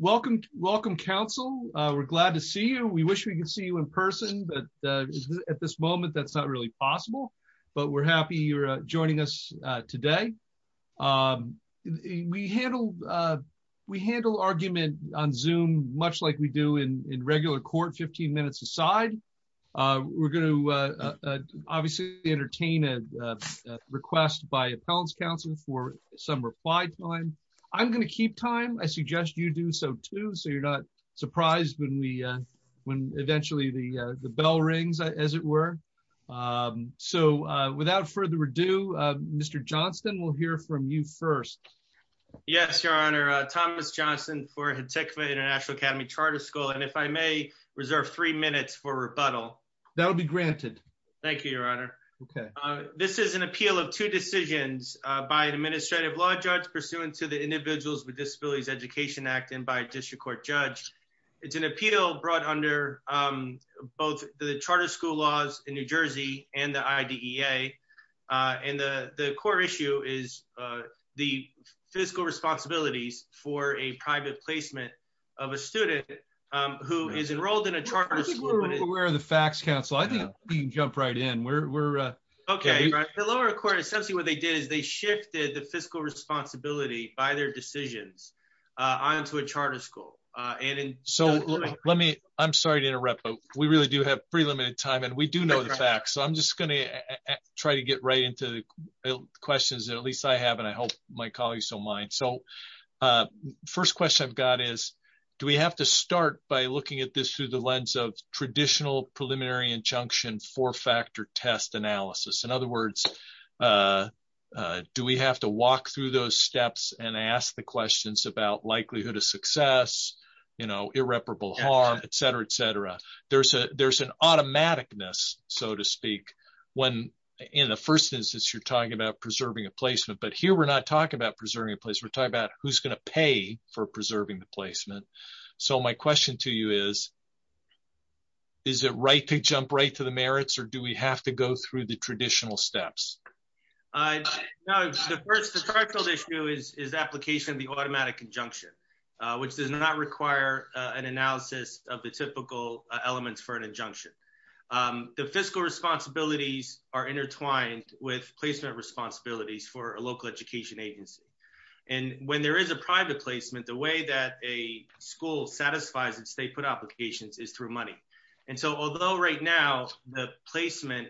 Welcome. Welcome, Council. We're glad to see you. We wish we could see you in person, but at this moment, that's not really possible. But we're happy you're joining us today. We handle argument on Zoom much like we do in regular court, 15 minutes a side. We're going to obviously entertain a request by Appellants Council for some reply time. I'm going to keep time. I suggest you do so too, so you're not surprised when eventually the bell rings, as it were. So without further ado, Mr. Johnston, we'll hear from you first. Yes, Your Honor. Thomas Johnston for Hatikvah Intl Academy Charter School. And if I may, reserve three minutes for rebuttal. That will be granted. Thank you, Your Honor. This is an appeal of two decisions by an administrative law judge pursuant to the Individuals with Disabilities Education Act and by a district court judge. It's an appeal brought under both the charter school laws in New Jersey and the IDEA. And the core issue is the fiscal responsibilities for a private placement of a student who is enrolled in a charter school. We're aware of the facts, counsel. I think we can jump right in. Okay. The lower court, essentially what they did is they shifted the fiscal responsibility by their decisions onto a charter school. I'm sorry to interrupt, but we really do have pretty limited time and we do know the facts. So I'm just going to try to get right into the questions that at least I have, and I hope my colleagues don't mind. So first question I've got is, do we have to start by looking at this through the lens of traditional preliminary injunction four-factor test analysis? In other words, do we have to walk through those steps and ask the questions about likelihood of success, irreparable harm, et cetera, et cetera? There's an automaticness, so to speak, when in the first instance, you're talking about preserving a placement, but here we're not talking about preserving a place. We're talking about who's going to pay for preserving the place. So the question I have is, is it right to jump right to the merits or do we have to go through the traditional steps? No, the first issue is application of the automatic injunction, which does not require an analysis of the typical elements for an injunction. The fiscal responsibilities are intertwined with placement responsibilities for a local education agency. And when there is a placement, the way that a school satisfies its state put applications is through money. And so although right now the placement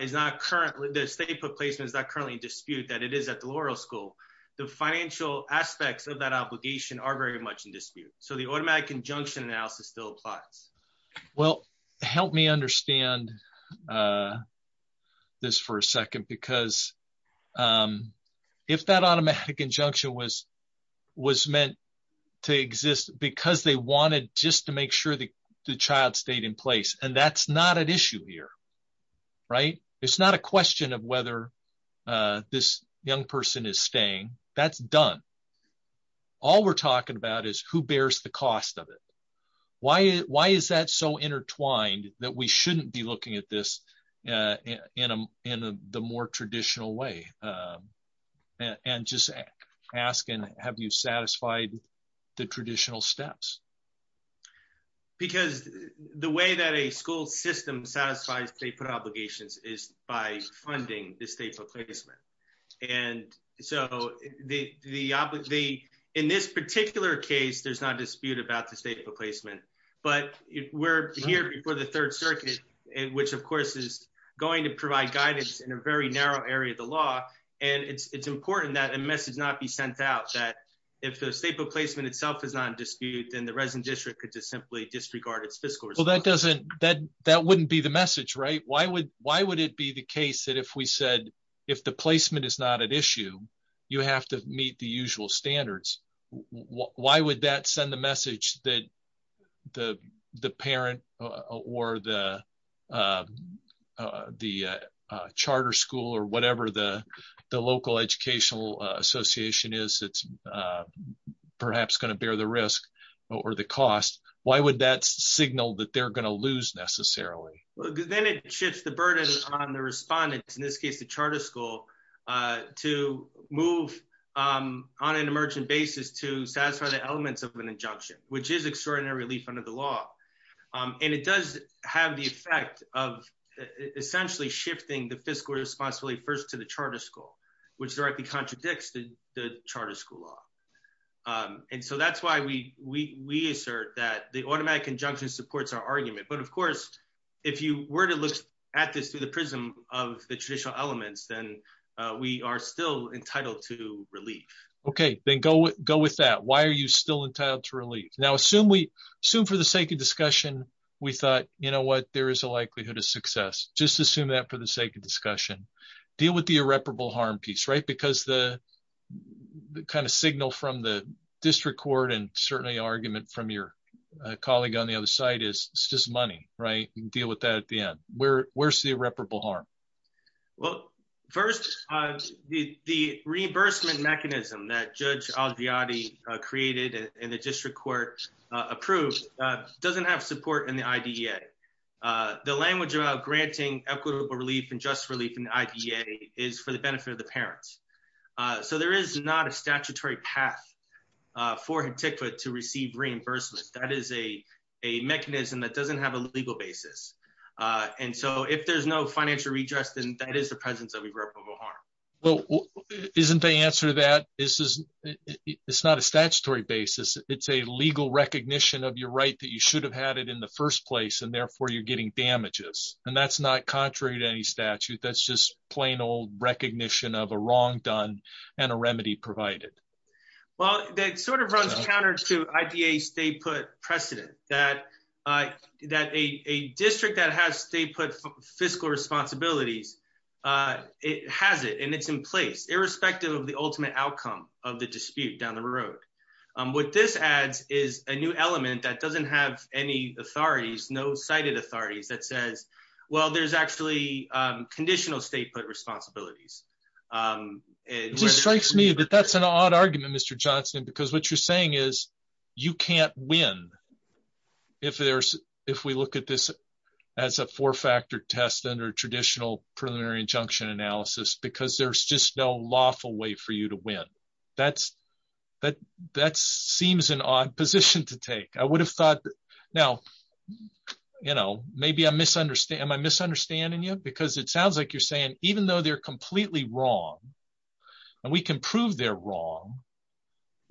is not currently, the state put placement is not currently in dispute that it is at the Laurel School, the financial aspects of that obligation are very much in dispute. So the automatic injunction analysis still applies. Well, help me understand this for a second, because if that automatic injunction was meant to exist because they wanted just to make sure that the child stayed in place, and that's not an issue here, right? It's not a question of whether this young person is staying, that's done. All we're talking about is who bears the cost of it. Why is that so intertwined that we shouldn't be looking at this in the more traditional way? And just asking, have you satisfied the traditional steps? Because the way that a school system satisfies state put obligations is by funding the state placement. And so in this particular case, there's not a dispute about the state put placement, but we're here before the third circuit, which of course is going to provide guidance in a very narrow area of the law. And it's important that a message not be sent out that if the state put placement itself is not in dispute, then the resident district could just simply disregard its fiscal responsibility. Well, that wouldn't be the message, right? Why would it be the case that if we said, if the placement is not an issue, you have to meet the usual standards. Why would that send the message that the parent or the charter school or whatever the local educational association is, it's perhaps going to bear the risk or the cost. Why would that signal that they're going to lose necessarily? Then it shifts the burden on the respondents, in this case, the charter school to move on an emergent basis to satisfy the elements of an injunction, which is extraordinary relief under the law. And it does have the effect of essentially shifting the fiscal responsibility first to the charter school, which directly contradicts the school law. And so that's why we assert that the automatic injunction supports our argument. But of course, if you were to look at this through the prism of the traditional elements, then we are still entitled to relief. Okay, then go with that. Why are you still entitled to relief? Now, assume for the sake of discussion, we thought, you know what, there is a likelihood of success. Just assume that for the sake of discussion. Deal with the irreparable harm piece, because the kind of signal from the district court and certainly argument from your colleague on the other side is it's just money, right? You can deal with that at the end. Where's the irreparable harm? Well, first, the reimbursement mechanism that Judge Al-Jiyadi created and the district court approved doesn't have support in the IDEA. The language about granting equitable relief and just relief in the IDEA is for the benefit of the parents. So there is not a statutory path for HIPTCFA to receive reimbursement. That is a mechanism that doesn't have a legal basis. And so if there's no financial redress, then that is the presence of irreparable harm. Well, isn't the answer to that? It's not a statutory basis. It's a legal recognition of your right that you should have had it in the first place, and therefore you're getting damages. And that's not contrary to any statute. That's just plain old recognition of a wrong done and a remedy provided. Well, that sort of runs counter to IDEA's state put precedent that a district that has state put fiscal responsibilities, it has it and it's in place, irrespective of the ultimate outcome of the dispute down the road. What this adds is a new well, there's actually conditional state put responsibilities. It strikes me that that's an odd argument, Mr. Johnson, because what you're saying is you can't win if we look at this as a four factor test under traditional preliminary injunction analysis, because there's just no lawful way for you to win. That seems an odd position to take. Now, maybe I'm misunderstanding you, because it sounds like you're saying, even though they're completely wrong, and we can prove they're wrong,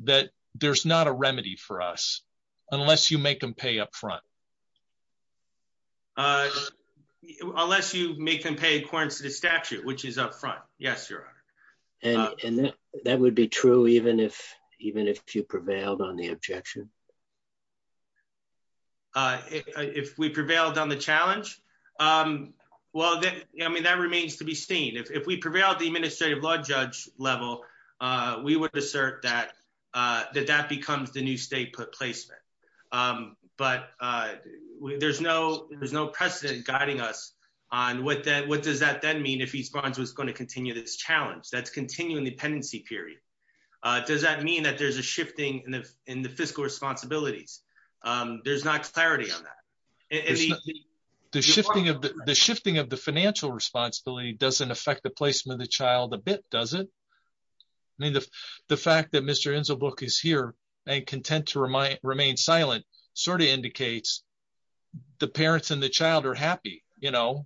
that there's not a remedy for us, unless you make them pay up front. Unless you make them pay in accordance to the statute, which is up front. Yes, Your Honor. And that would be true, even if you prevailed on the objection. If we prevailed on the challenge? Well, then, I mean, that remains to be seen. If we prevail at the administrative law judge level, we would assert that that becomes the new state put placement. But there's no precedent guiding us on what does that then mean if East Barnes was going to continue this challenge, that's continuing the pendency period. Does that mean that there's a there's not clarity on that? The shifting of the financial responsibility doesn't affect the placement of the child a bit, does it? I mean, the fact that Mr. Inzelbrook is here, and content to remain silent, sort of indicates the parents and the child are happy. You know,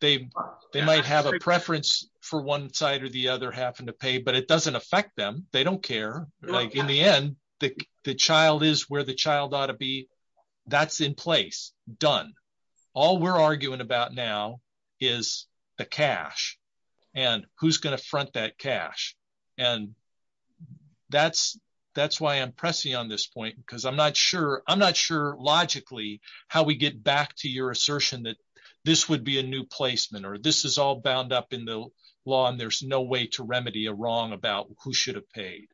they might have a preference for one side or the other having to pay, but it doesn't affect them. They don't care. In the end, the child is where the child ought to be. That's in place done. All we're arguing about now is the cash, and who's going to front that cash. And that's, that's why I'm pressing on this point, because I'm not sure I'm not sure logically, how we get back to your assertion that this would be a new placement, or this is all bound up in the law. And there's no to remedy a wrong about who should have paid.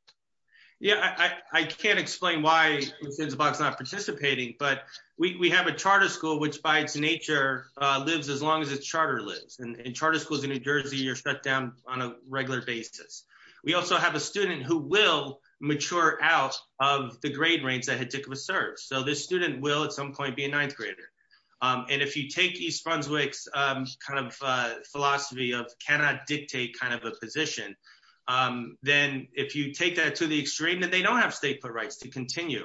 Yeah, I can't explain why Mr. Inzelbrook's not participating. But we have a charter school, which by its nature, lives as long as its charter lives, and charter schools in New Jersey are shut down on a regular basis. We also have a student who will mature out of the grade range that Hedekova serves. So this student will at some point be a position. Then if you take that to the extreme that they don't have stateful rights to continue,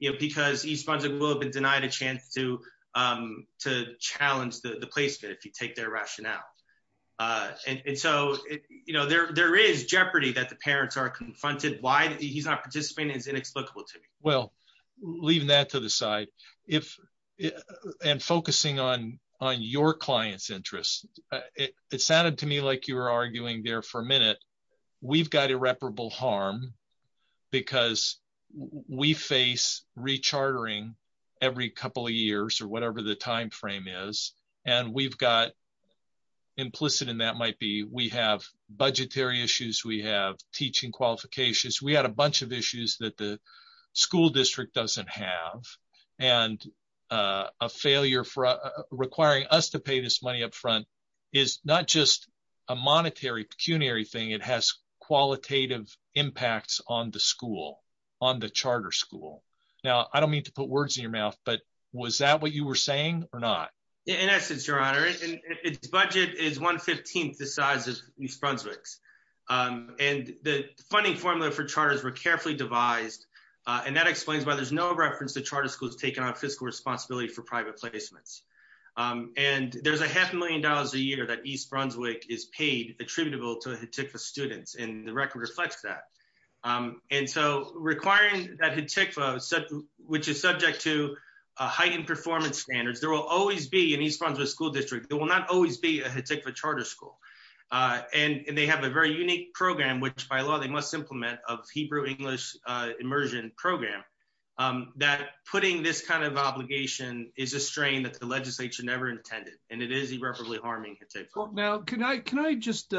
you know, because he sponsored will have been denied a chance to, to challenge the placement if you take their rationale. And so, you know, there, there is jeopardy that the parents are confronted, why he's not participating is inexplicable to me. Well, leaving that to the minute, we've got irreparable harm, because we face rechartering every couple of years, or whatever the timeframe is. And we've got implicit in that might be we have budgetary issues, we have teaching qualifications, we had a bunch of issues that the school district doesn't have. And a failure for requiring us to pay this money up front is not just a monetary pecuniary thing, it has qualitative impacts on the school on the charter school. Now, I don't mean to put words in your mouth. But was that what you were saying or not? In essence, Your Honor, its budget is 115th the size of East Brunswick's. And the funding formula for charters were carefully devised. And that explains why there's no reference to charter schools taking on fiscal responsibility for private placements. And there's a half a million dollars a year that East Brunswick is paid attributable to HATICFA students, and the record reflects that. And so requiring that HATICFA which is subject to heightened performance standards, there will always be an East Brunswick school district, there will not always be a HATICFA charter school. And they have a very program that putting this kind of obligation is a strain that the legislature never intended, and it is irreparably harming HATICFA. Now, can I can I just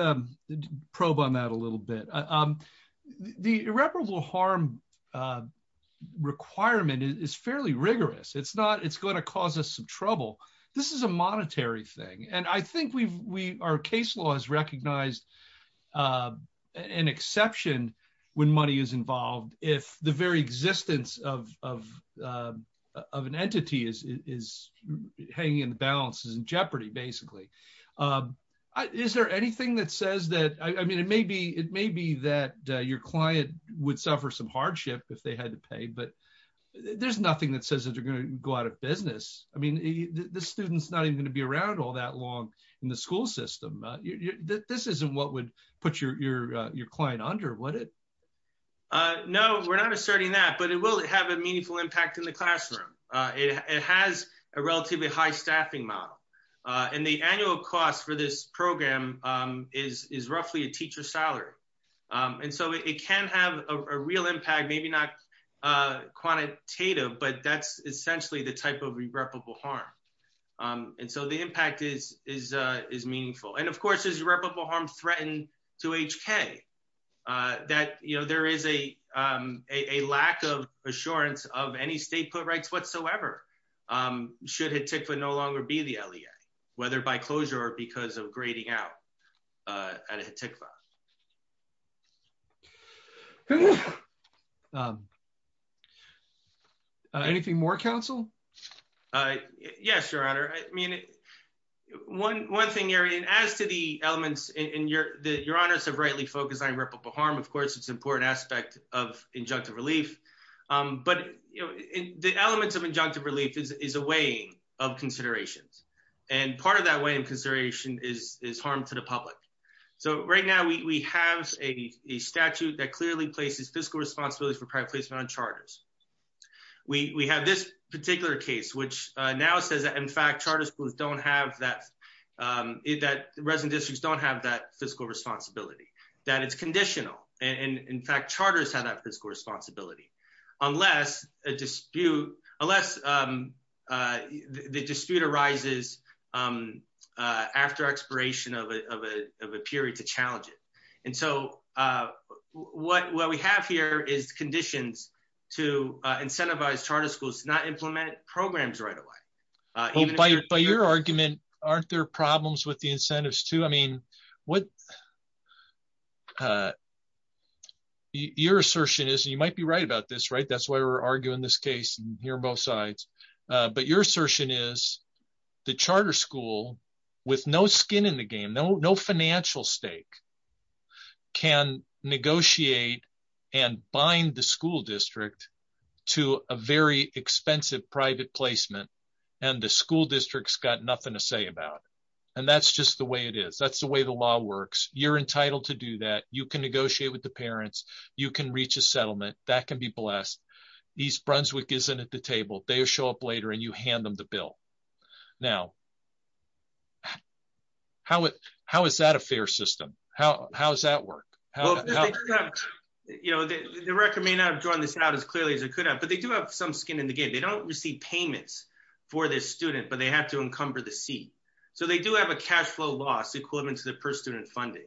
probe on that a little bit? The irreparable harm requirement is fairly rigorous. It's not it's going to cause us some trouble. This is a monetary thing. And I think we've we our case law has recognized an exception when money is involved, if the very existence of an entity is hanging in the balance is in jeopardy, basically. Is there anything that says that I mean, it may be it may be that your client would suffer some hardship if they had to pay, but there's nothing that says that you're going to go out of business. I mean, the students not even going to be around all that long in the school system. This isn't what would put your your your client under what it No, we're not asserting that, but it will have a meaningful impact in the classroom. It has a relatively high staffing model. And the annual cost for this program is is roughly a teacher salary. And so it can have a real impact, maybe not quantitative, but that's essentially the type of reputable harm. And so the impact is, is, is meaningful. And of course, is reputable harm threatened to HK that, you know, there is a, a lack of assurance of any state put rights whatsoever. Should it take for no longer be the LEA, whether by closure or because of grading out a tick file. Anything more counsel? Yes, your honor. I mean, one one thing area and as to the elements in your the your honors have rightly focused on reputable harm, of course, it's important aspect of injunctive relief. But the elements of injunctive relief is a way of So right now we have a statute that clearly places fiscal responsibility for private placement on charters. We have this particular case, which now says that in fact, charter schools don't have that, that resident districts don't have that fiscal responsibility, that it's conditional. And in fact, charters have that fiscal responsibility, unless a dispute, unless the dispute arises after expiration of a period to challenge it. And so what we have here is conditions to incentivize charter schools not implement programs right away. By your argument, aren't there problems with the incentives to I mean, what your assertion is, you might be right about this, right? That's why we're arguing this case, here on both sides. But your assertion is, the charter school, with no skin in the game, no, no financial stake, can negotiate and bind the school district to a very expensive private placement. And the school district's got nothing to say about. And that's just the way it is. That's the way the law works. You're entitled to do that you can negotiate with the parents, you can reach a settlement that can be blessed. East Brunswick isn't at the table, they show up later and you hand them the bill. Now, how is that a fair system? How does that work? You know, the record may not have drawn this out as clearly as it could have, but they do have some skin in the game. They don't receive payments for this student, but they have to encumber the seat. So they do have a cash flow loss equivalent to the student funding.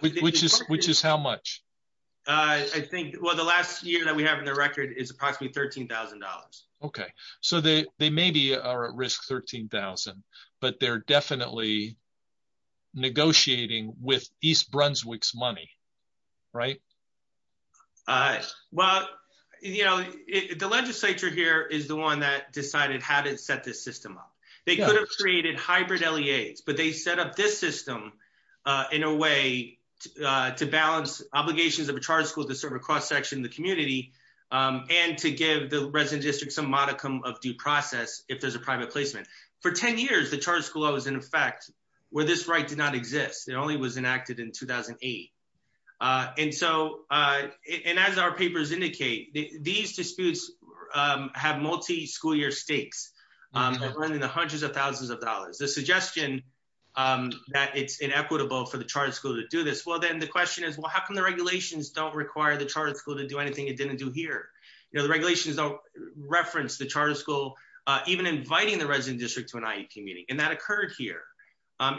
Which is how much? I think, well, the last year that we have in the record is approximately $13,000. Okay, so they maybe are at risk $13,000, but they're definitely negotiating with East Brunswick's money, right? Well, you know, the legislature here is the one that decided how to set this system up. They could have created hybrid LEAs, but they set up this system in a way to balance obligations of a charter school to serve a cross-section of the community and to give the resident district some modicum of due process if there's a private placement. For 10 years, the charter school law was in effect where this right did not exist. It only was enacted in 2008. And so, and as our papers indicate, these disputes have multi-school stakes that run into hundreds of thousands of dollars. The suggestion that it's inequitable for the charter school to do this, well, then the question is, well, how come the regulations don't require the charter school to do anything it didn't do here? You know, the regulations don't reference the charter school even inviting the resident district to an IEP meeting. And that occurred here.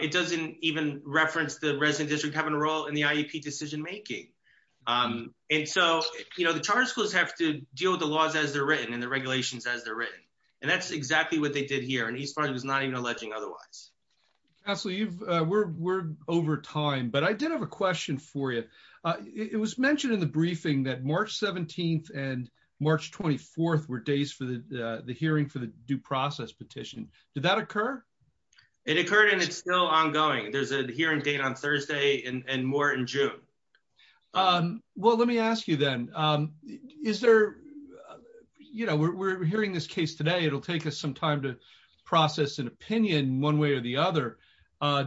It doesn't even reference the resident district having a role in the IEP decision-making. And so, you know, the charter schools have to deal with the laws as they're and that's exactly what they did here. And he's probably was not even alleging otherwise. Absolutely. You've we're, we're over time, but I did have a question for you. It was mentioned in the briefing that March 17th and March 24th were days for the, the hearing for the due process petition. Did that occur? It occurred and it's still ongoing. There's a hearing date on Thursday and more in June. Well, let me ask you then is there, you know, we're hearing this case today. It'll take us some time to process an opinion one way or the other.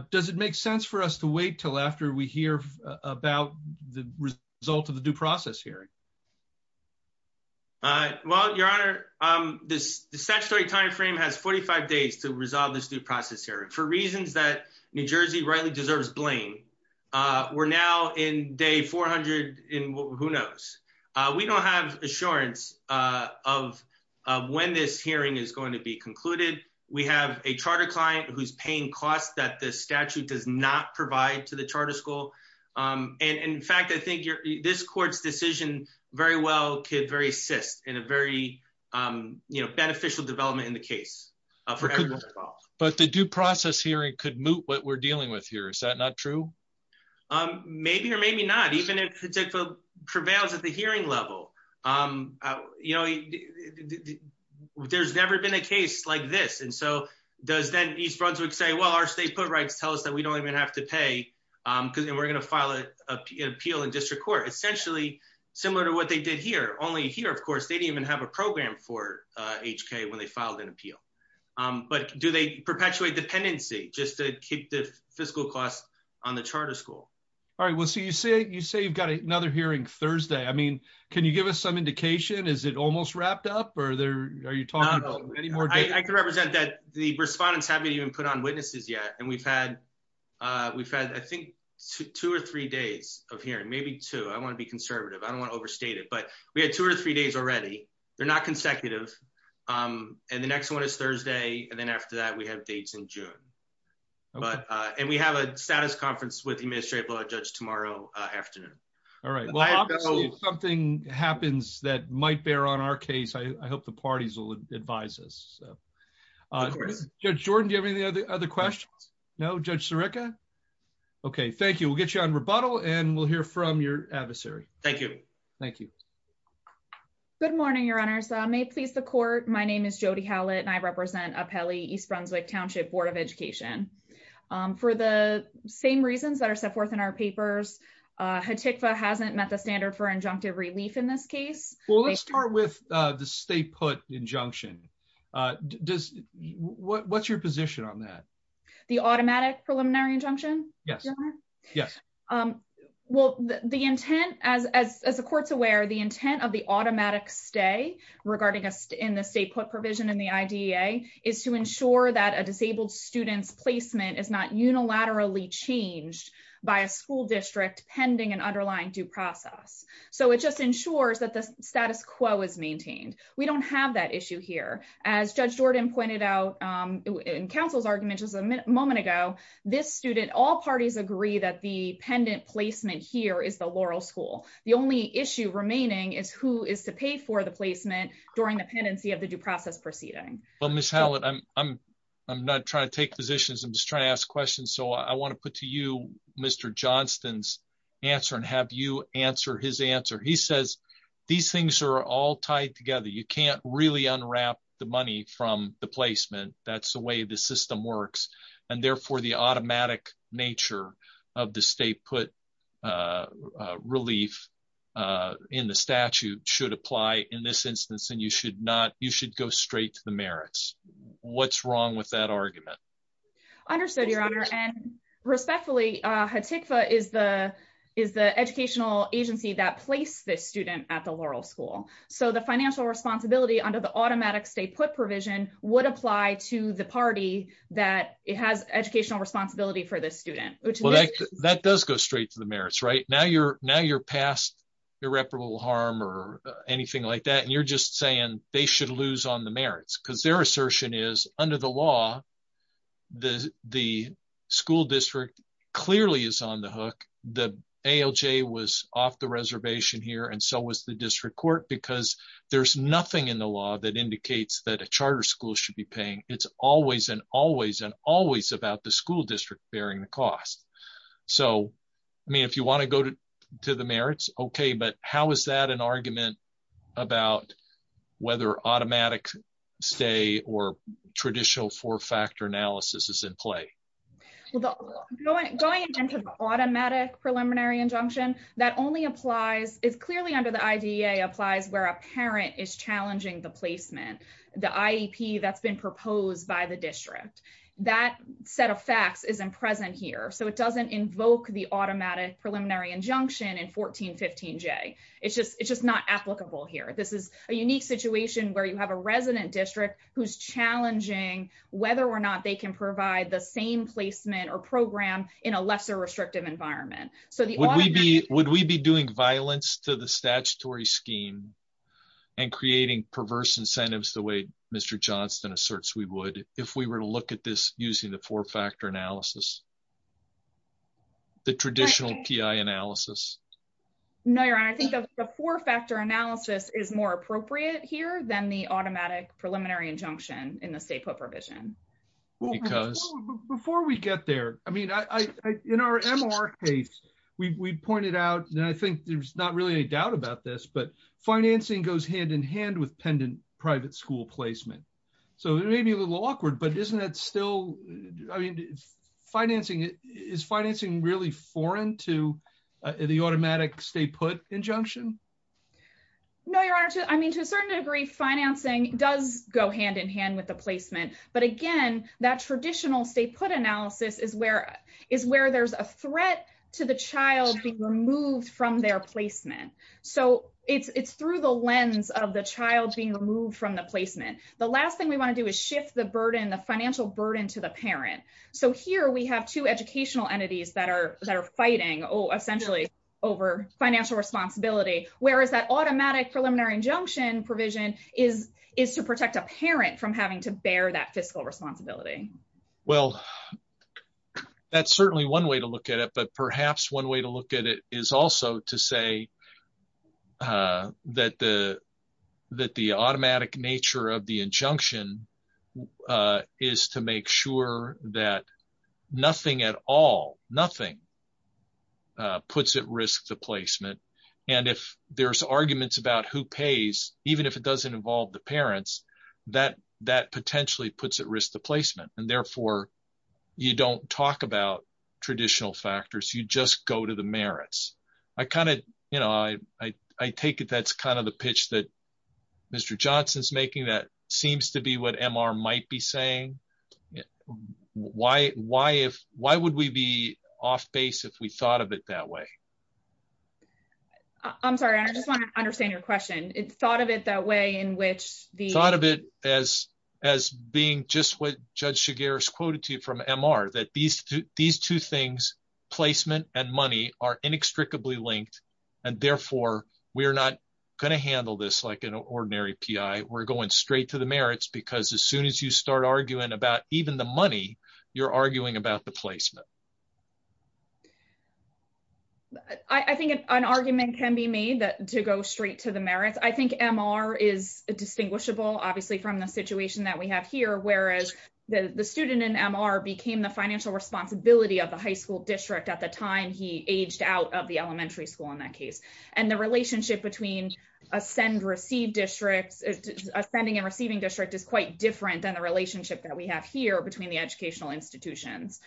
Does it make sense for us to wait till after we hear about the result of the due process hearing? Well, your honor, this statutory timeframe has 45 days to resolve this due process hearing for reasons that New Jersey rightly deserves blame. We're now in day 400 in who knows. We don't have assurance of when this hearing is going to be concluded. We have a charter client who's paying costs that the statute does not provide to the charter school. And in fact, I think this court's decision very well could very assist in a very, you know, beneficial development in the case. But the due process hearing could what we're dealing with here. Is that not true? Maybe or maybe not. Even if it prevails at the hearing level, you know, there's never been a case like this. And so does that East Brunswick say, well, our state put rights tell us that we don't even have to pay because we're going to file an appeal in district court, essentially similar to what they did here. Only here, of course, they didn't even have a program for HK when they filed an appeal. But do they perpetuate dependency just to keep the fiscal costs on the charter school? All right. Well, so you say you say you've got another hearing Thursday. I mean, can you give us some indication? Is it almost wrapped up or there? Are you talking about any more? I could represent that the respondents haven't even put on witnesses yet. And we've had we've had, I think, two or three days of hearing, maybe two. I want to be conservative. I don't want to overstate it, but we had two or three days already. They're not consecutive. And the next one is Thursday. And then after that, we have dates in June. But and we have a status conference with the administrative judge tomorrow afternoon. All right. Well, I know something happens that might bear on our case. I hope the parties will advise us. So, of course, Jordan, do you have any other questions? No, Judge Serica. OK, thank you. We'll get you on rebuttal and we'll hear from your adversary. Thank you. Thank you. Good morning, Your Honors. May it please the court. My name is Jody Hallett and I represent Apelli East Brunswick Township Board of Education for the same reasons that are set forth in our papers. HATICFA hasn't met the standard for injunctive relief in this case. Well, let's start with the stay put injunction. Does what's your position on that? The automatic preliminary injunction? Yes. Yes. Well, the intent, as the court's aware, the intent of the automatic stay regarding us in the state put provision in the idea is to ensure that a disabled student's placement is not unilaterally changed by a school district pending an underlying due process. So it just ensures that the status quo is maintained. We don't have that issue here. As Judge Jordan pointed out in counsel's argument just a moment ago, this student, all parties agree that the pendant placement here is the Laurel School. The only issue remaining is who is to pay for the placement during the pendency of the due process proceeding. Well, Ms. Hallett, I'm not trying to take positions. I'm just trying to ask questions. So I want to put to you, Mr. Johnston's answer and have you answer his answer. He says these things are all tied together. You can't really unwrap the money from the placement. That's the way the system works. And therefore, the automatic nature of the state put relief in the statute should apply in this instance. And you should not you should go straight to the merits. What's wrong with that argument? Understood, Your Honor. And respectfully, HATICFA is the is the educational agency that placed this student at the Laurel School. So the financial responsibility under the automatic state put provision would apply to the party that has educational responsibility for this student. That does go straight to the merits, right? Now you're now you're past irreparable harm or anything like that. And you're just saying they should lose on the merits because their assertion is under the law. The the school district clearly is on the hook. The ALJ was off the reservation here. And so was the district court, because there's nothing in the law that indicates that a charter school should be paying. It's always and always and always about the school district bearing the cost. So, I mean, if you want to go to to the merits, OK, but how is that an argument about whether automatic stay or traditional four factor analysis is in play? Well, going into the automatic preliminary injunction that only applies is clearly under the idea applies where a parent is challenging the placement, the IEP that's been proposed by the district. That set of facts is in present here. So it doesn't invoke the automatic preliminary injunction in 1415 J. It's just it's just not applicable here. This is a unique situation where you have a resident district who's challenging whether or not they can provide the same placement or program in a lesser restrictive environment. So would we be would we be doing violence to the statutory scheme and creating perverse incentives the way Mr. Johnston asserts we would if we were to look at this using the four factor analysis? The traditional P.I. analysis? No, your honor, I think the four factor analysis is more appropriate here than the automatic preliminary injunction in the state provision because before we get there, I mean, I in our case, we pointed out that I think there's not really any doubt about this, but financing goes hand in hand with pendant private school placement. So it may be a little awkward, but isn't that still I mean, financing is financing really foreign to the automatic state put injunction? No, your honor, I mean, to a certain degree, financing does go hand in hand with the placement. But again, that traditional state put analysis is where is where there's a threat to the child being removed from their placement. So it's through the lens of the child being removed from the placement. The last thing we want to do is shift the burden, the financial burden to the parent. So here we have two educational entities that are that are fighting essentially over financial responsibility, whereas that automatic preliminary injunction provision is is to protect a parent from having to bear that fiscal responsibility. Well, that's certainly one way to look at it. But perhaps one way to look at it is also to say that the that the automatic nature of the injunction is to make sure that nothing at all, nothing puts at risk the placement. And if there's arguments about who pays, even if it doesn't involve the parents, that that potentially puts at risk the placement. And therefore, you don't talk about traditional factors, you just go to the merits. I kind of, you know, I, I take it that's kind of the pitch that Mr. Johnson's making that seems to be what MR might be saying. Why, why if why would we be off base if we thought of it that way? I'm sorry, I just want to understand your question. It thought of it that way in which the thought of it as as being just what Judge Shigeru's quoted to you from MR that these these two things, placement and money are inextricably linked. And therefore, we're not going to handle this like an ordinary PI, we're going straight to the merits, because as soon as you start arguing about even the money, you're arguing about the placement. I think an argument can be made that to go straight to the merits, I think MR is distinguishable, obviously, from the situation that we have here, whereas the student in MR became the financial responsibility of the high school district at the time he aged out of the elementary school in that case. And the relationship between ascend receive districts, ascending and receiving district is quite different than the relationship that we have here between the educational institutions.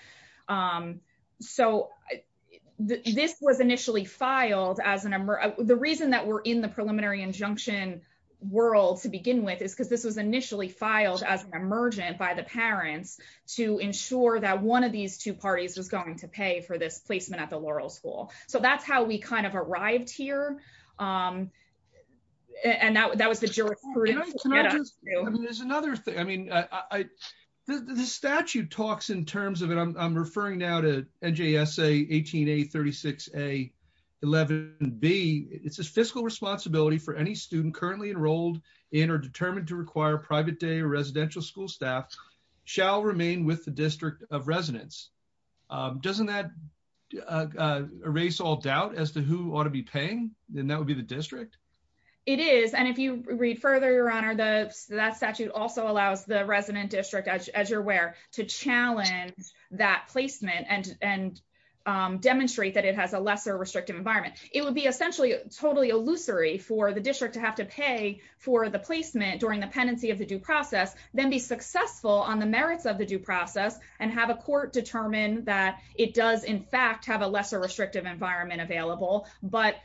So this was initially filed as an MR. The reason that we're in the preliminary injunction world to begin with is because this was initially filed as an emergent by the parents to ensure that one of these two parties was going to pay for this placement at Laurel school. So that's how we kind of arrived here. And now that was the jury. There's another thing. I mean, I, the statute talks in terms of it, I'm referring now to NJSA 18 a 36 a 11 b, it's a fiscal responsibility for any student currently enrolled in or determined to require private day residential school staff shall remain with the district of residence. Doesn't that erase all doubt as to who ought to be paying? Then that would be the district. It is. And if you read further, your honor, the statute also allows the resident district, as you're aware, to challenge that placement and, and demonstrate that it has a lesser restrictive environment, it would be essentially totally illusory for the district to have to pay for the placement during the pendency of the due process, then be successful on the merits of the due process, and have a court determine that it does, in fact, have a lesser restrictive environment available, but,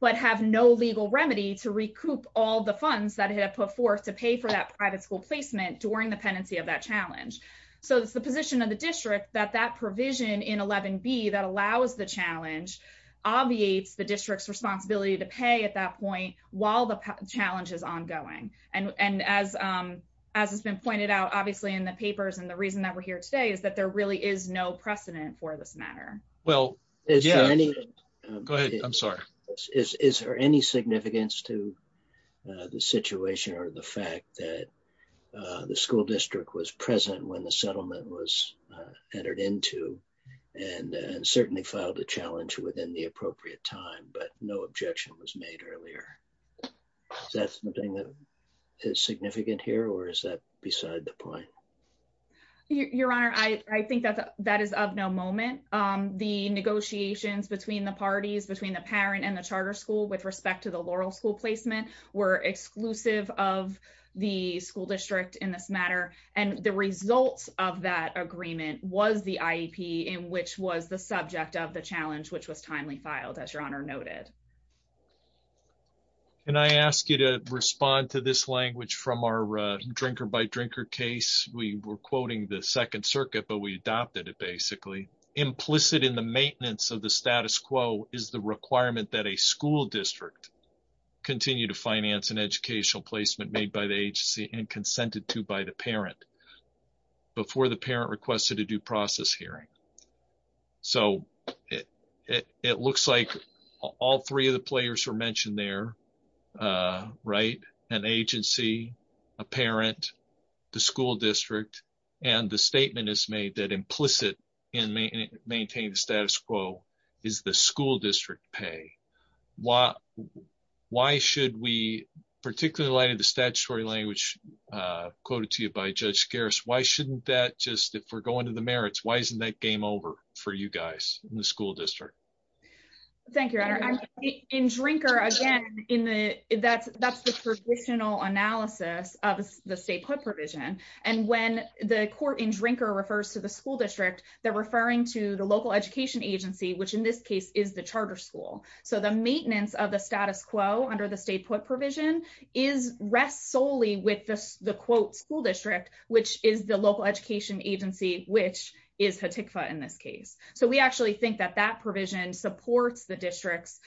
but have no legal remedy to recoup all the funds that it had put forth to pay for that private school placement during the pendency of that challenge. So it's the position of the district that that provision in 11 be that allows the challenge obviates the district's responsibility to pay at that point, while the challenge is ongoing. And, and as, as it's been pointed out, obviously, in the papers, and the reason that we're here today is that there really is no precedent for this matter. Well, is there any? Go ahead. I'm sorry. Is there any significance to the situation or the fact that the school district was present when the settlement was entered into, and certainly filed a challenge within the appropriate time, but no objection was made earlier? That's the thing that is significant here? Or is that beside the point? Your Honor, I think that that is of no moment. The negotiations between the parties between the parent and the charter school with respect to the Laurel school placement were exclusive of the school district in this matter. And the results of that agreement was the IEP in which was the subject of the challenge, which was timely filed, as Your Honor noted. And I ask you to respond to this language from our drinker by drinker case, we were quoting the Second Circuit, but we adopted it basically implicit in the maintenance of the status quo is the requirement that a school district continue to finance an educational placement made by the agency and consented to by the parent before the parent requested a due process hearing. So, it looks like all three of the players were mentioned there, right? An agency, a parent, the school district, and the statement is made that implicit in maintaining the status quo is the school district pay. Why should we, particularly in light of the statutory language quoted to you by Judge Garris, why shouldn't that just, if we're going to the merits, why isn't that game over for you guys in the school district? Thank you, Your Honor. In drinker, again, that's the traditional analysis of the state court provision. And when the court in drinker refers to the school district, they're referring to the local education agency, which in this case is the charter school. So, the maintenance of the status quo under the state court provision rests solely with the quote school district, which is the local education agency, which is Hatikva in this case. So, we actually think that that provision supports the district's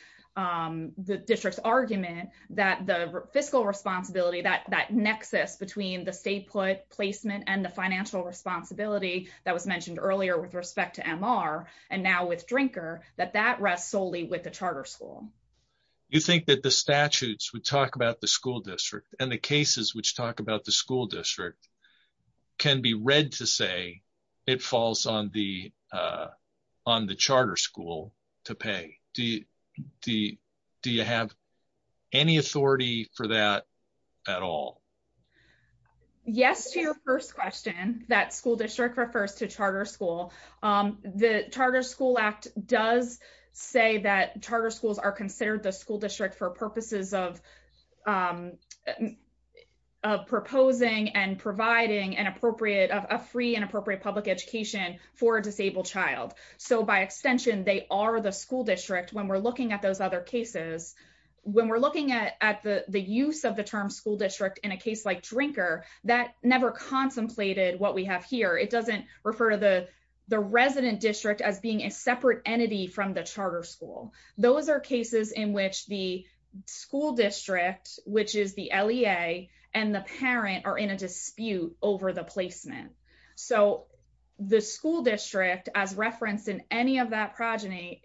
argument that the fiscal responsibility, that nexus between the state placement and the financial responsibility that was mentioned earlier with respect to MR, and now with drinker, that that rests solely with the charter school. You think that the statutes would talk about the school district and the cases which talk about the school district can be read to say, it falls on the charter school to pay. Do you have any authority for that at all? Yes, to your first question, that school district refers to charter school. The charter school act does say that charter schools are considered the school district for purposes of proposing and providing a free and appropriate public education for a disabled child. So, by extension, they are the school district when we're looking at those other cases. When we're looking at the use of the term school district in a case like drinker, that never contemplated what we have here. It doesn't refer to the resident district as being a separate entity from the charter school. Those are cases in which the school district, which is the LEA, and the parent are in a dispute over the placement. So, the school district, as referenced in any of that progeny,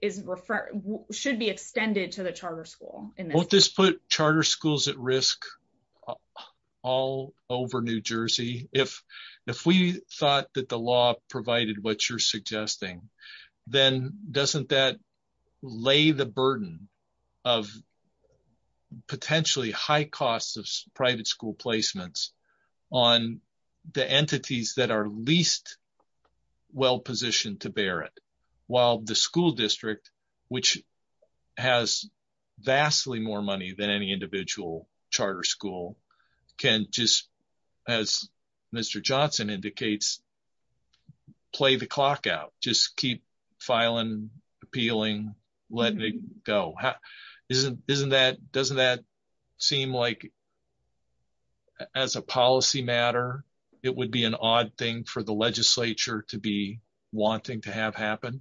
should be extended to the charter school. Won't this put charter schools at risk all over New Jersey? If we thought that the law provided what you're suggesting, then doesn't that lay the burden of potentially high costs of private school placements on the entities that are least well-positioned to bear it? While the school district, which has vastly more money than any individual charter school, can just, as Mr. Johnson indicates, play the clock out. Just keep filing, appealing, letting it go. Doesn't that seem like as a policy matter, it would be an odd thing for the legislature to be wanting to have happen?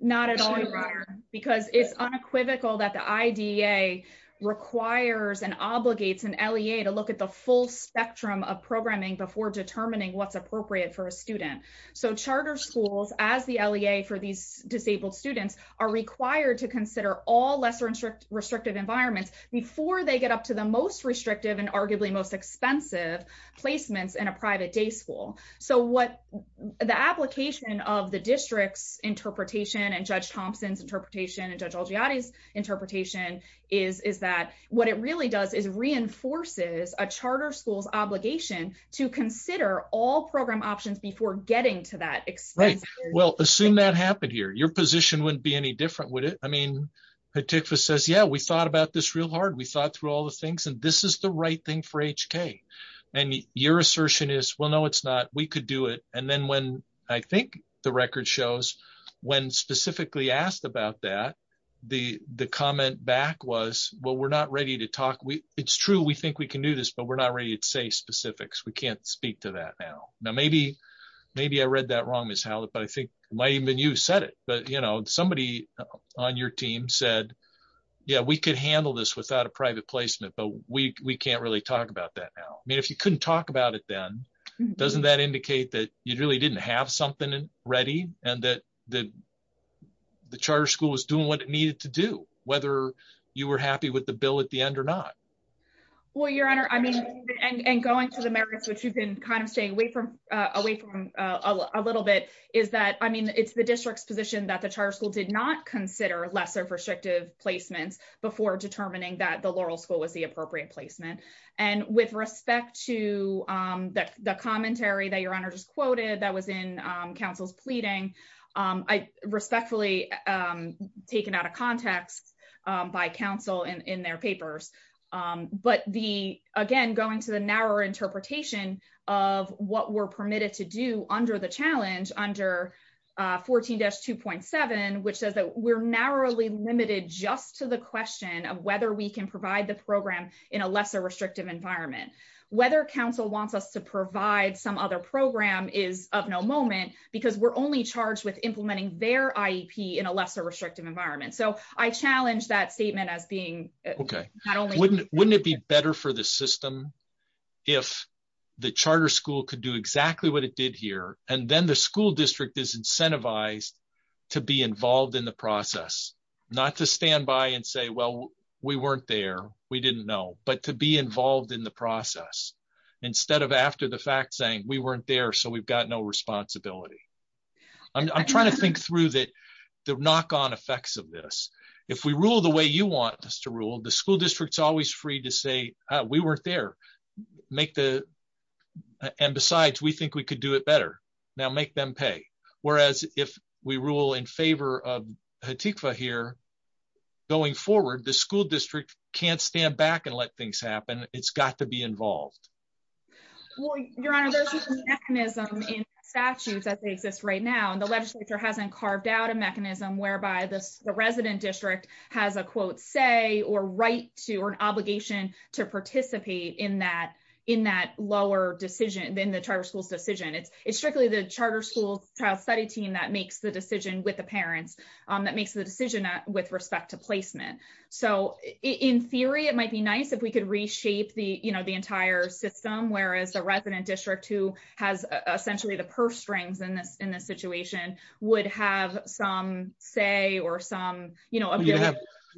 Not at all, Your Honor, because it's unequivocal that the IDEA requires and obligates an LEA to look at the full spectrum of programming before determining what's appropriate for a student. So, charter schools, as the LEA for these disabled students, are required to consider all lesser restrictive environments before they get up to the most restrictive and arguably most expensive placements in a private day school. So, the application of the district's interpretation and Judge Thompson's interpretation and Judge Olgiati's interpretation is that what it really does is reinforces a charter school's obligation to consider all program options before getting to that expense. Right. Well, assume that happened here. Your position wouldn't be any different, would it? I mean, Patikfa says, yeah, we thought about this real hard. We thought through all things, and this is the right thing for HK. And your assertion is, well, no, it's not. We could do it. And then when I think the record shows, when specifically asked about that, the comment back was, well, we're not ready to talk. It's true, we think we can do this, but we're not ready to say specifics. We can't speak to that now. Now, maybe I read that wrong, Ms. Howlett, but I think it might have been you who said it. But somebody on your team said, yeah, we could handle this without a private placement, but we can't really talk about that now. I mean, if you couldn't talk about it then, doesn't that indicate that you really didn't have something ready and that the charter school was doing what it needed to do, whether you were happy with the bill at the end or not? Well, Your Honor, I mean, and going to the merits, which we've been kind of staying away from a little bit, is that, I mean, it's the district's position that the charter school did consider lesser restrictive placements before determining that the Laurel School was the appropriate placement. And with respect to the commentary that Your Honor just quoted that was in counsel's pleading, I respectfully taken out of context by counsel in their papers. But the, again, going to the narrower interpretation of what we're permitted to do under the challenge, under 14-2.7, which says that we're narrowly limited just to the question of whether we can provide the program in a lesser restrictive environment. Whether counsel wants us to provide some other program is of no moment, because we're only charged with implementing their IEP in a lesser restrictive environment. So I challenge that statement as being not only- Wouldn't it be better for the system if the charter school could do exactly what it did here, and then the school district is incentivized to be involved in the process, not to stand by and say, well, we weren't there, we didn't know, but to be involved in the process, instead of after the fact saying, we weren't there, so we've got no responsibility. I'm trying to think through the knock-on effects of this. If we rule the way you want us to rule, the school district's always free to say, we weren't there. And besides, we think we could do it better. Now make them pay. Whereas if we rule in favor of HTIHCFA here, going forward, the school district can't stand back and let things happen. It's got to be involved. Well, your honor, there's a mechanism in statutes that exists right now, and the legislature hasn't carved out a mechanism whereby the resident district has a quote, say, or right to, or an obligation to participate in that lower decision than the charter school's decision. It's strictly the charter school's child study team that makes the decision with the parents, that makes the decision with respect to placement. So in theory, it might be nice if we could reshape the entire system, whereas the resident district who has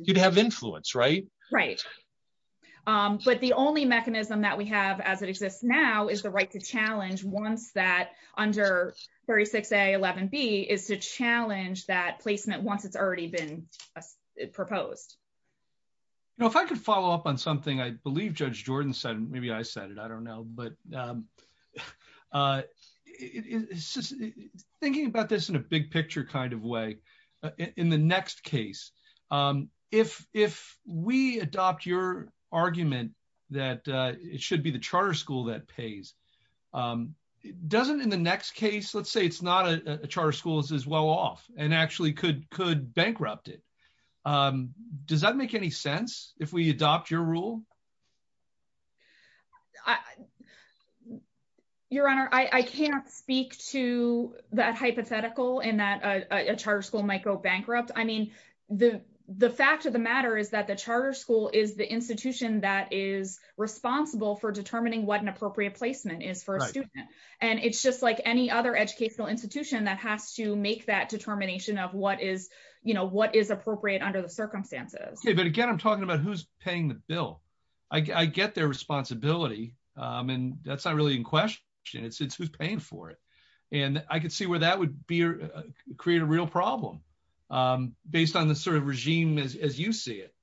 You'd have influence, right? Right. But the only mechanism that we have as it exists now is the right to challenge once that under 36A, 11B, is to challenge that placement once it's already been proposed. You know, if I could follow up on something I believe Judge Jordan said, maybe I said it, I don't know, but thinking about this in a big picture kind of way, in the next case, if we adopt your argument that it should be the charter school that pays, it doesn't in the next case, let's say it's not a charter school as well off, and actually could bankrupt it. Does that make any sense if we adopt your rule? I Your Honor, I can't speak to that hypothetical in that a charter school might go bankrupt. I mean, the the fact of the matter is that the charter school is the institution that is responsible for determining what an appropriate placement is for a student. And it's just like any other educational institution that has to make that determination of what is, you know, what is appropriate under the circumstances. But again, I'm talking about who's paying the bill. I get their responsibility. And that's not really in question. It's who's paying for it. And I could see where that would be create a real problem based on the sort of regime as you see it.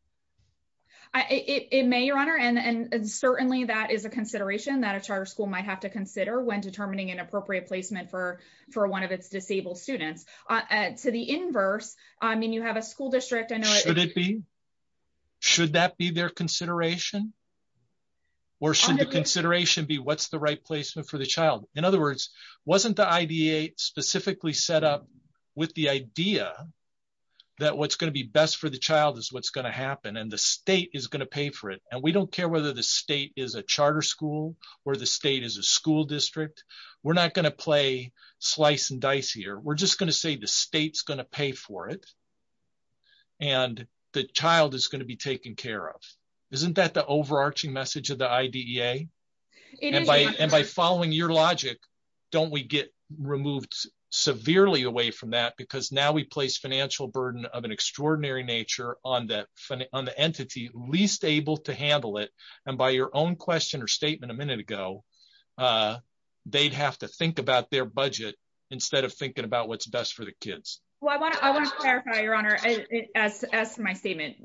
I it may Your Honor, and certainly that is a consideration that a charter school might have to consider when determining an appropriate placement for for one of its disabled students. To the inverse, I mean, you have a school district, I know, should it be? Should that be their consideration? Or should the consideration be what's the right placement for the child? In other words, wasn't the IDA specifically set up with the idea that what's going to be best for the child is what's going to happen, and the state is going to pay for it. And we don't care whether the state is a charter school, or the state is a school district, we're not going to play slice and dice here, we're just going to say the state's going to pay for it. And the child is going to be taken care of. Isn't that the overarching message of the IDA? And by following your logic, don't we get removed severely away from that? Because now we place financial burden of an extraordinary nature on that funny on the entity least able to handle it. And by your own question or statement a minute ago, they'd have to think about their budget, instead of thinking about what's best for the kids. Well, I want to I want to clarify, Your Honor, as as my statement,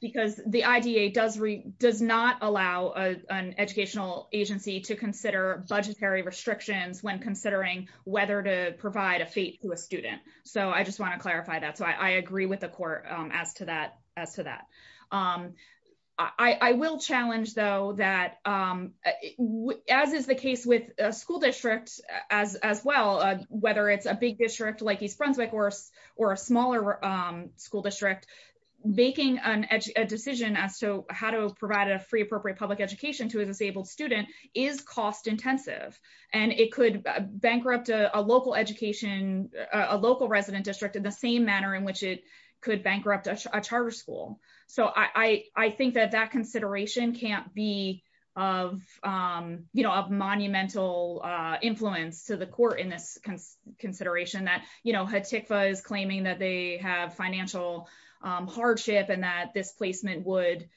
because the IDA does does not allow an educational agency to consider budgetary restrictions when considering whether to provide a fee to a student. So I just want to clarify that. So I agree with the court as to that, as to that. I will challenge though, that as is the case with a school district, as well, whether it's a big district like East Brunswick or, or a smaller school district, making an edge decision as to how to provide a free appropriate public education to a disabled student is cost intensive. And it could bankrupt a local education, a local resident district in the same manner in which it could bankrupt a charter school. So I think that that consideration can't be of, you know, a monumental influence to the court in this consideration that, you know, had Tickfaw is claiming that they have financial hardship and that this placement would,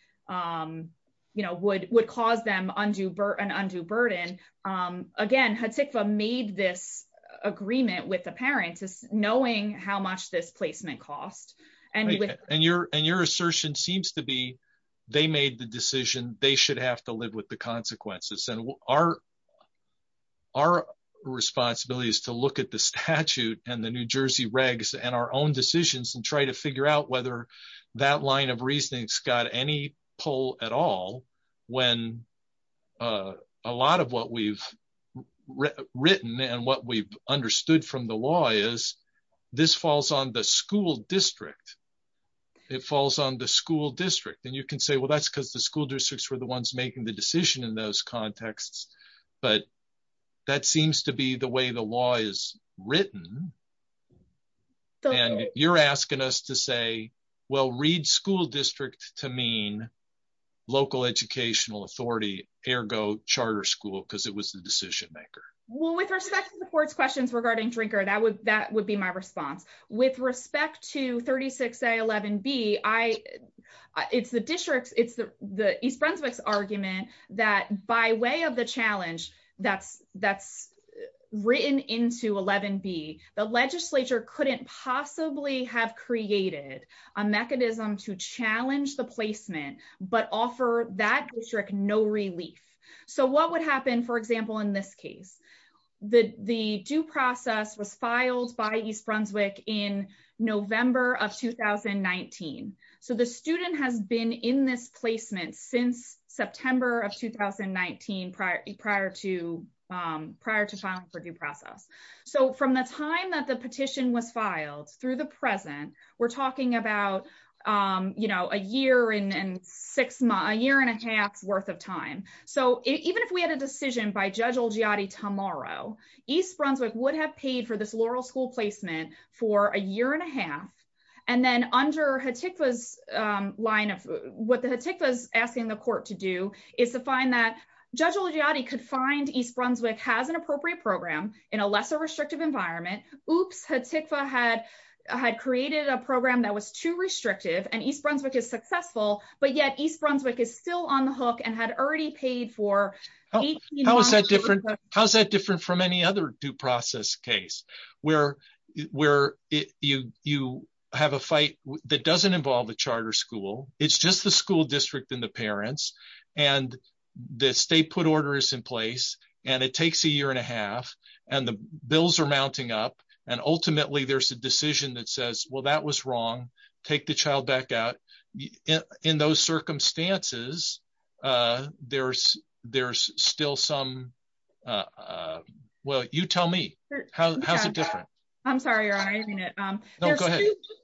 you know, would would cause them undue burden, undue burden. Again, had Tickfaw made this agreement with the parents is knowing how much this placement cost. And, and your, and your assertion seems to be, they made the decision, they should have to live with the consequences. And our, our responsibility is to look at the statute and the New Jersey regs and our own decisions and try to figure out whether that line of reasoning's got any pull at all, when a lot of what we've written and what we've understood from the law is, this falls on the school district, it falls on the school district. And you can say, well, that's because the school districts were the ones making the decision in those contexts. But that seems to be the way the law is written. And you're asking us to say, well, read school district to mean local educational authority, ergo charter school, because it was the decision Well, with respect to the court's questions regarding Drinker, that would, that would be my response. With respect to 36A11B, I, it's the district's, it's the East Brunswick's argument that by way of the challenge, that's, that's written into 11B, the legislature couldn't possibly have created a mechanism to challenge the placement, but offer that district no relief. So what would happen, for example, in this case, the due process was filed by East Brunswick in November of 2019. So the student has been in this placement since September of 2019, prior to, prior to filing for due process. So from the time that the petition was filed through the present, we're talking about, you know, a year and six months, a year and a half's worth of time. So even if we had a decision by Judge Olgiati tomorrow, East Brunswick would have paid for this Laurel School placement for a year and a half. And then under Hatikva's line of, what the Hatikva's asking the court to do is to find that Judge Olgiati could find East Brunswick has an appropriate program in a lesser restrictive environment. Oops, Hatikva had, had created a program that was too restrictive and East Brunswick is successful, but yet East Brunswick is still on the hook and had already paid for. How is that different? How's that different from any other due process case where, where you, you have a fight that doesn't involve the charter school. It's just the school district and the parents and the state put orders in place and it takes a year and a half and the bills are mounting up. And ultimately there's a decision that says, well, that was wrong. Take the child back out in those circumstances. There's, there's still some well, you tell me how, how's it different? I'm sorry.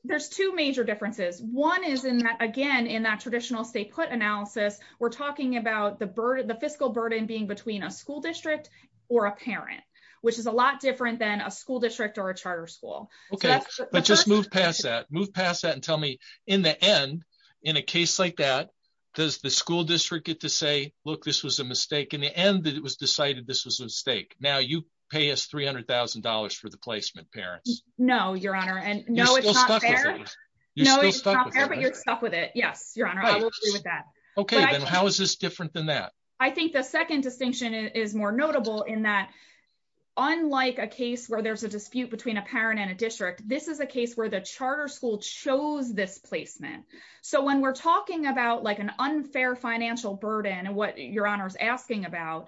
There's two major differences. One is in that, again, in that traditional state put analysis, we're talking about the burden, the fiscal burden being between a school district or a parent, which is a lot different than a school district or a charter school. Okay. Let's just move past that, move past that and tell me in the end, in a case like that, does the school district get to say, look, this was a mistake in the end that it was decided this was a mistake. Now you pay us $300,000 for the placement parents. No, your honor. And no, it's not fair, but you're stuck with it. Yes. Your honor. Okay. Then how is this different than that? I think the second distinction is more notable in that. Unlike a case where there's a dispute between a parent and a district, this is a case where the charter school chose this placement. So when we're talking about like an unfair financial burden and what your honor's asking about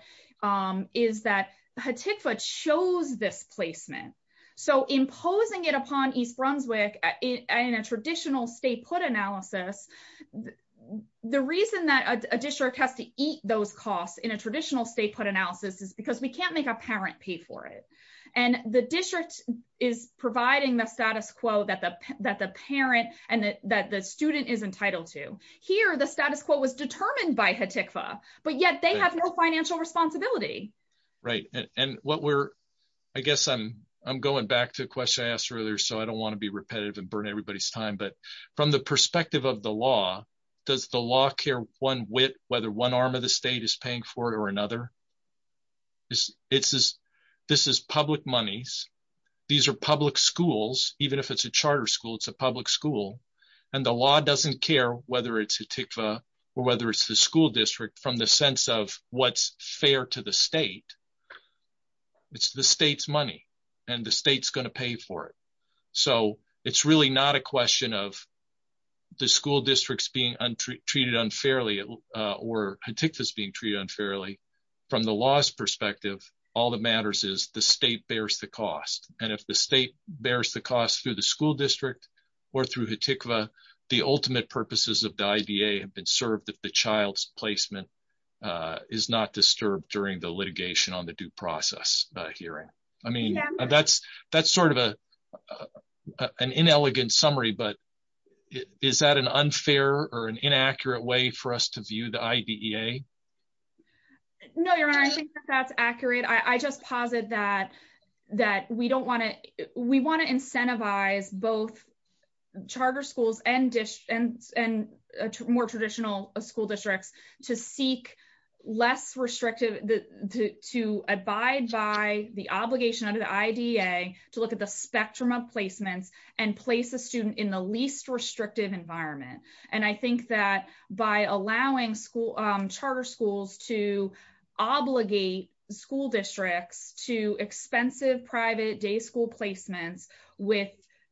is that Hatikva chose this placement. So imposing it upon East Brunswick in a traditional state put analysis, the reason that a district has to eat those costs in a traditional state put analysis is because we can't make a parent pay for it. And the district is providing the status quo that the parent and that the student is entitled to here. The status quo was determined by Hatikva, but yet they have no financial responsibility. Right. And what we're, I guess I'm going back to the question I asked earlier, so I don't want to be repetitive and burn everybody's time. But from the perspective of the law, does the law care one whit whether one arm of the state is paying for it or another? This is public monies. These are public schools, even if it's a charter school, it's a public school. And the law doesn't care whether it's Hatikva or whether it's the school district from the sense of what's fair to the state. It's the state's money and the state's going to pay for it. So it's really not a question of the school districts being treated unfairly or Hatikva is being treated unfairly from the law's perspective. All that matters is the state bears the cost. And if the state bears the cost through the school district or through Hatikva, the ultimate purposes of the IBA have been served if the child's placement is not disturbed during the litigation on the due process hearing. I mean, that's sort of an inelegant summary, but is that an unfair or an inaccurate way for us to view the IBEA? No, your honor, I think that's accurate. I just posit that we want to incentivize both charter schools and more traditional school districts to seek less restrictive, to abide by the obligation under the IDEA to look at the spectrum of placements and place a student in the least restrictive environment. And I think that by allowing charter schools to obligate school districts to expensive private day school placements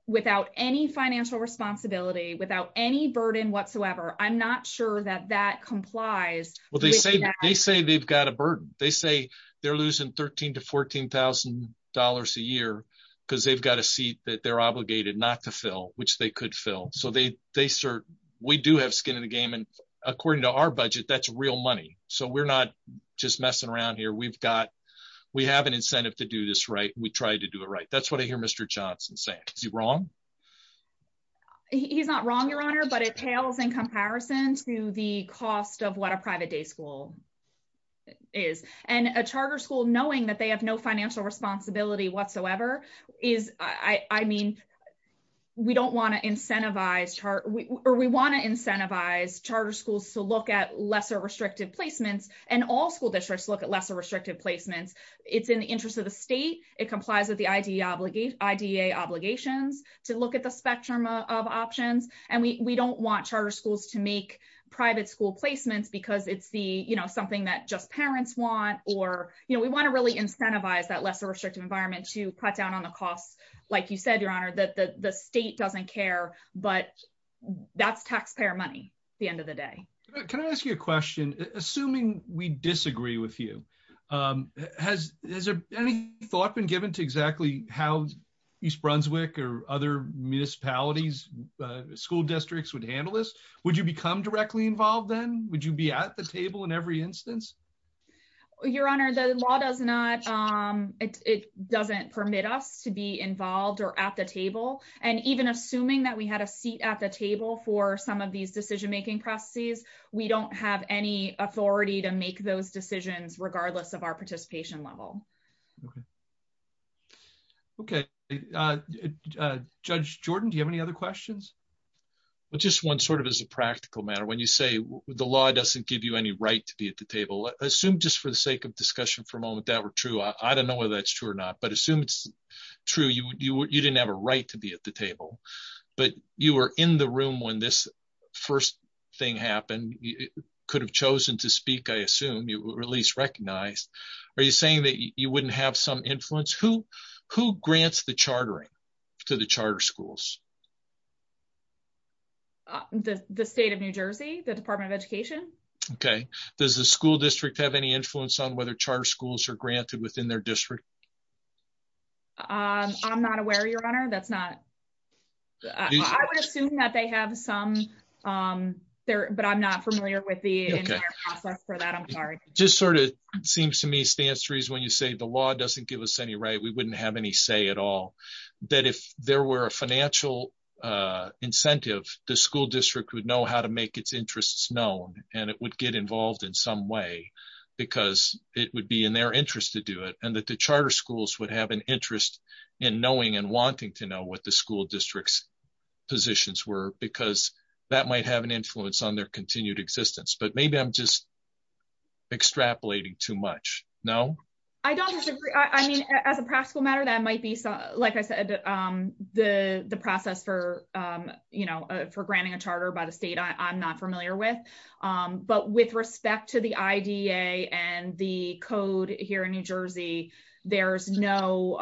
without any financial responsibility, without any burden whatsoever, I'm not sure that that complies. Well, they say they've got a burden. They say they're losing $13,000 to $14,000 a year because they've got a seat that they're obligated not to fill, which they could fill. So we do have skin in the game and according to our budget, that's real money. So we're not just messing around here. We have an incentive to do this right. We try to do it right. That's what I said. Is he wrong? He's not wrong, your honor, but it pales in comparison to the cost of what a private day school is. And a charter school, knowing that they have no financial responsibility whatsoever is, I mean, we don't want to incentivize or we want to incentivize charter schools to look at lesser restrictive placements and all school districts look at lesser restrictive placements. It's in the interest of the state. It complies with the IDEA obligations to look at the spectrum of options. And we don't want charter schools to make private school placements because it's the, you know, something that just parents want, or, you know, we want to really incentivize that lesser restrictive environment to cut down on the costs. Like you said, your honor, that the state doesn't care, but that's taxpayer money at the end of the day. Can I ask you a question, assuming we disagree with you? Has there been any thought been given to exactly how East Brunswick or other municipalities, school districts would handle this? Would you become directly involved then? Would you be at the table in every instance? Your honor, the law does not, it doesn't permit us to be involved or at the table. And even assuming that we had a seat at the table for some of these decision-making processes, we don't have any authority to make those decisions regardless of our participation level. Okay. Okay. Judge Jordan, do you have any other questions? Well, just one sort of as a practical matter, when you say the law doesn't give you any right to be at the table, assume just for the sake of discussion for a moment, that were true. I don't know whether that's true or not, but assume it's true. You didn't have a right to be at the table, but you were in the room when this first thing happened. You could have chosen to speak. I assume you were at least recognized. Are you saying that you wouldn't have some influence? Who grants the chartering to the charter schools? The state of New Jersey, the Department of Education. Okay. Does the school district have any influence on whether charter schools are granted within their district? I'm not aware, Your Honor. I would assume that they have some, but I'm not familiar with the entire process for that. I'm sorry. Just sort of seems to me stands to reason when you say the law doesn't give us any right, we wouldn't have any say at all, that if there were a financial incentive, the school district would know how to make its interests known and it would get involved in some way because it would be their interest to do it and that the charter schools would have an interest in knowing and wanting to know what the school district's positions were because that might have an influence on their continued existence, but maybe I'm just extrapolating too much. No? I don't disagree. I mean, as a practical matter, that might be, like I said, the process for granting a charter by the state I'm not familiar with, but with respect to the IDA and the code here in New Jersey, there's no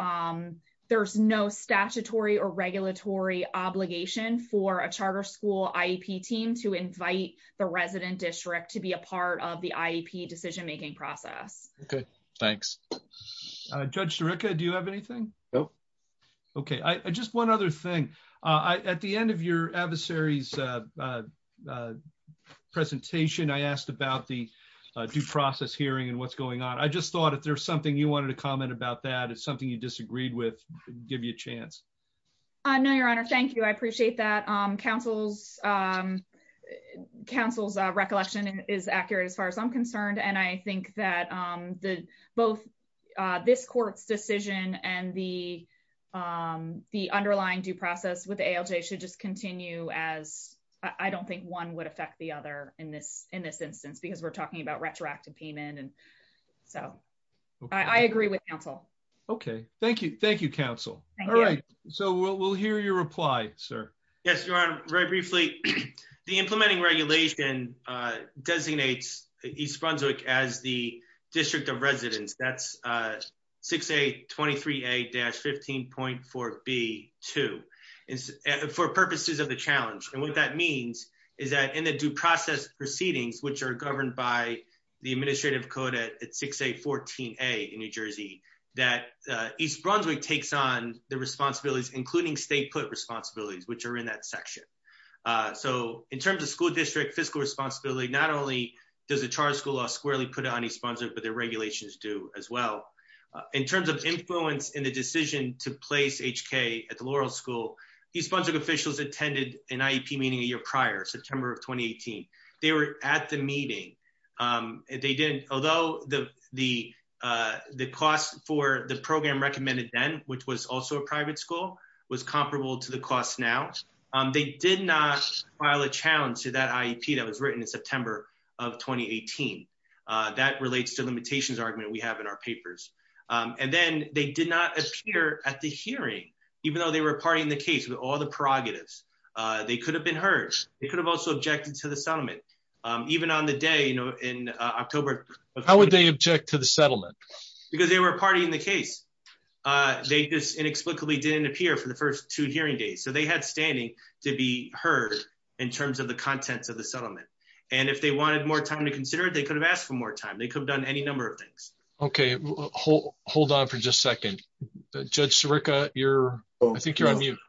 statutory or regulatory obligation for a charter school IEP team to invite the resident district to be a part of the IEP decision-making process. Okay. Thanks. Judge Sirica, do you have anything? Nope. Okay. Just one other thing. At the end of your adversary's presentation, I asked about the due process hearing and what's going on. I just thought if there's something you wanted to comment about that, it's something you disagreed with, give you a chance. No, your honor. Thank you. I appreciate that. Council's recollection is accurate as far as I'm concerned. I think that both this court's decision and the underlying due process with ALJ should just continue as I don't think one would affect the other in this instance because we're talking about retroactive payment. I agree with council. Okay. Thank you. Thank you, council. All right. We'll hear your reply, sir. Yes, your honor. Very briefly, the implementing regulation designates East Brunswick as the district of residence. That's 6A23A-15.4B2 for purposes of the challenge. What that means is that in the due process proceedings, which are governed by the administrative code at 6A14A in New Jersey, that East Brunswick takes on the responsibilities, including state put responsibilities, which are in that section. In terms of school district fiscal responsibility, not only does the charter school law squarely put it on East Brunswick, but the regulations do as well. In terms of influence in the decision to place HK at the Laurel School, East Brunswick officials attended an IEP meeting a year prior, September of 2018. They were at the meeting. Although the cost for the program recommended then, which was also a private school, was comparable to the cost now, they did not file a challenge to that IEP that was written in September of 2018. That relates to the limitations argument we have in our papers. And then they did not appear at the hearing, even though they were a party in the case with all the prerogatives. They could have been heard. They could have also objected to the settlement. How would they object to the settlement? Because they were a party in the case. They just inexplicably didn't appear for the first hearing day. So they had standing to be heard in terms of the contents of the settlement. And if they wanted more time to consider it, they could have asked for more time. They could have done any number of things. Okay. Hold on for just a second. Judge Sirica, I think you're on mute.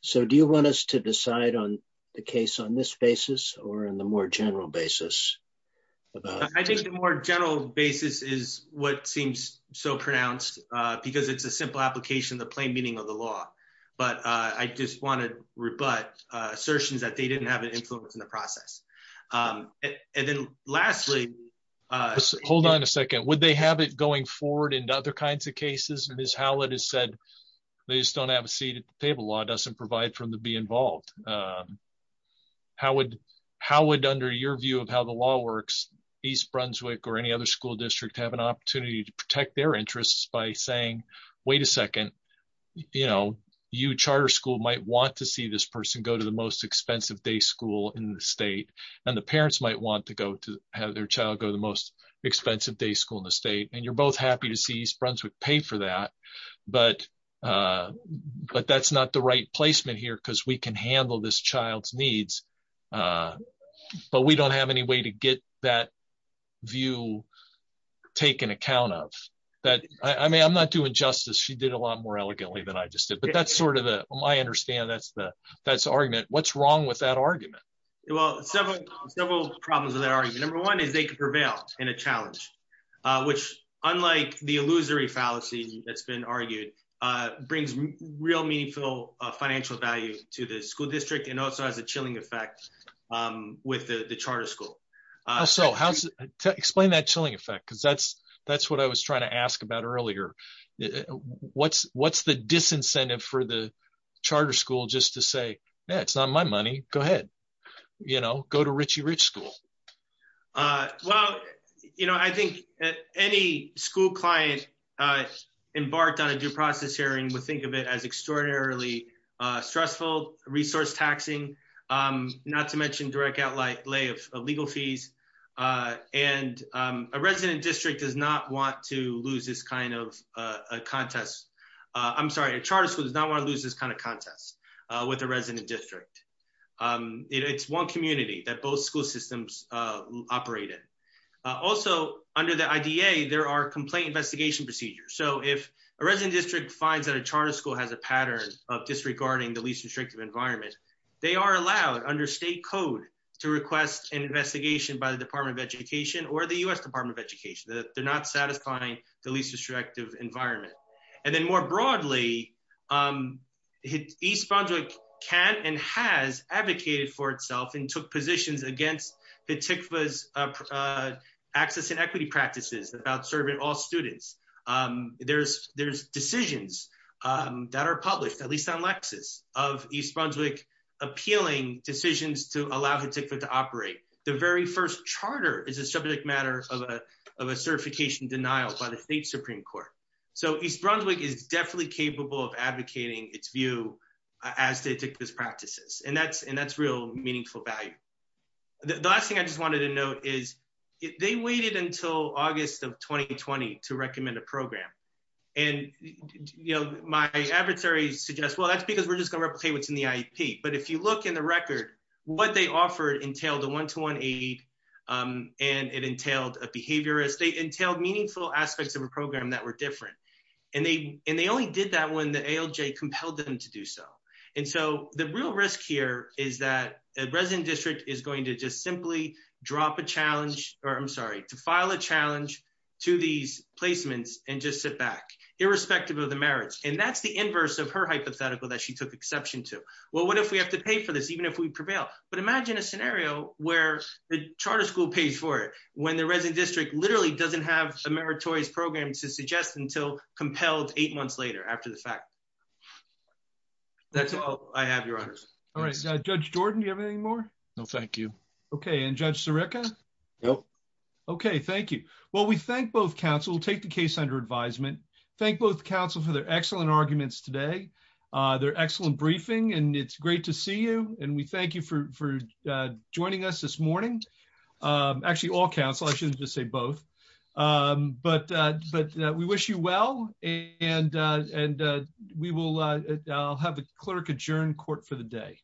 So do you want us to decide on the case on this basis or in the more general basis? I think the more general basis is what seems so pronounced because it's a simple application of the plain meaning of the law. But I just want to rebut assertions that they didn't have an influence in the process. And then lastly- Hold on a second. Would they have it going forward into other kinds of cases? Ms. Howlett has said they just don't have a seat at the table. Law doesn't provide for them to be involved. How would, under your view of how the law works, East Brunswick or any other school district have an opportunity to protect their interests by saying, wait a second, you charter school might want to see this person go to the most expensive day school in the state. And the parents might want to have their child go to the most expensive day school in the state. And you're both happy to see East Brunswick pay for that. But that's not the right placement here because we can handle this child's needs. But we don't have any way to get that view taken account of. I mean, I'm not doing justice. She did a lot more elegantly than I just did, but that's sort of the, I understand that's the argument. What's wrong with that argument? Well, several problems with that argument. Number one is they could prevail in a challenge, which unlike the illusory fallacy that's been argued, brings real meaningful financial value to the school district and also has a chilling effect with the charter school. So how's, explain that chilling effect, because that's what I was trying to ask about earlier. What's the disincentive for the charter school just to say, yeah, it's not my money, go ahead, you know, go to Richie Rich School. Well, you know, I think any school client embarked on a due process hearing would think of it as extraordinarily stressful, resource taxing, not to mention direct outlay of legal fees. And a resident district does not want to lose this kind of contest. I'm sorry, a charter school does not want to lose this kind of contest with a resident district. It's one community that both school systems operate in. Also, under the IDA, there are complaint investigation procedures. So if a resident district finds that a charter school has a pattern of disregarding the least restrictive environment, they are under state code to request an investigation by the Department of Education or the U.S. Department of Education that they're not satisfying the least restrictive environment. And then more broadly, East Brunswick can and has advocated for itself and took positions against the TICFA's access and equity practices about serving all students. There's decisions that are published, at least on Lexis, of East Brunswick appealing decisions to allow TICFA to operate. The very first charter is a subject matter of a certification denial by the state Supreme Court. So East Brunswick is definitely capable of advocating its view as to TICFA's practices. And that's real meaningful value. The last thing I just wanted to note is they waited until August of 2020 to recommend a program. And my adversaries suggest, well, that's because we're just going to replicate what's in the IEP. But if you look in the record, what they offered entailed a one-to-one aid, and it entailed a behaviorist. They entailed meaningful aspects of a program that were different. And they only did that when the ALJ compelled them to do so. And so the real risk here is that a resident district is going to just simply drop a challenge or, I'm sorry, to file a challenge to these placements and just sit back, irrespective of the merits. And that's the inverse of her hypothetical that she took exception to. Well, what if we have to pay for this, even if we prevail? But imagine a scenario where the charter school pays for it, when the resident district literally doesn't have a meritorious program to suggest until compelled eight months later after the fact. That's all I have, Your Honors. All right. Judge Jordan, do you have anything more? No, thank you. Okay. And Judge Sirica? No. Okay. Thank you. Well, we thank both counsel. We'll take the case under advisement. Thank both counsel for their excellent arguments today, their excellent briefing, and it's great to see you. And we thank you for joining us this morning. Actually, all counsel, I shouldn't just say both. But we wish you well, and I'll have the clerk adjourn court for the day.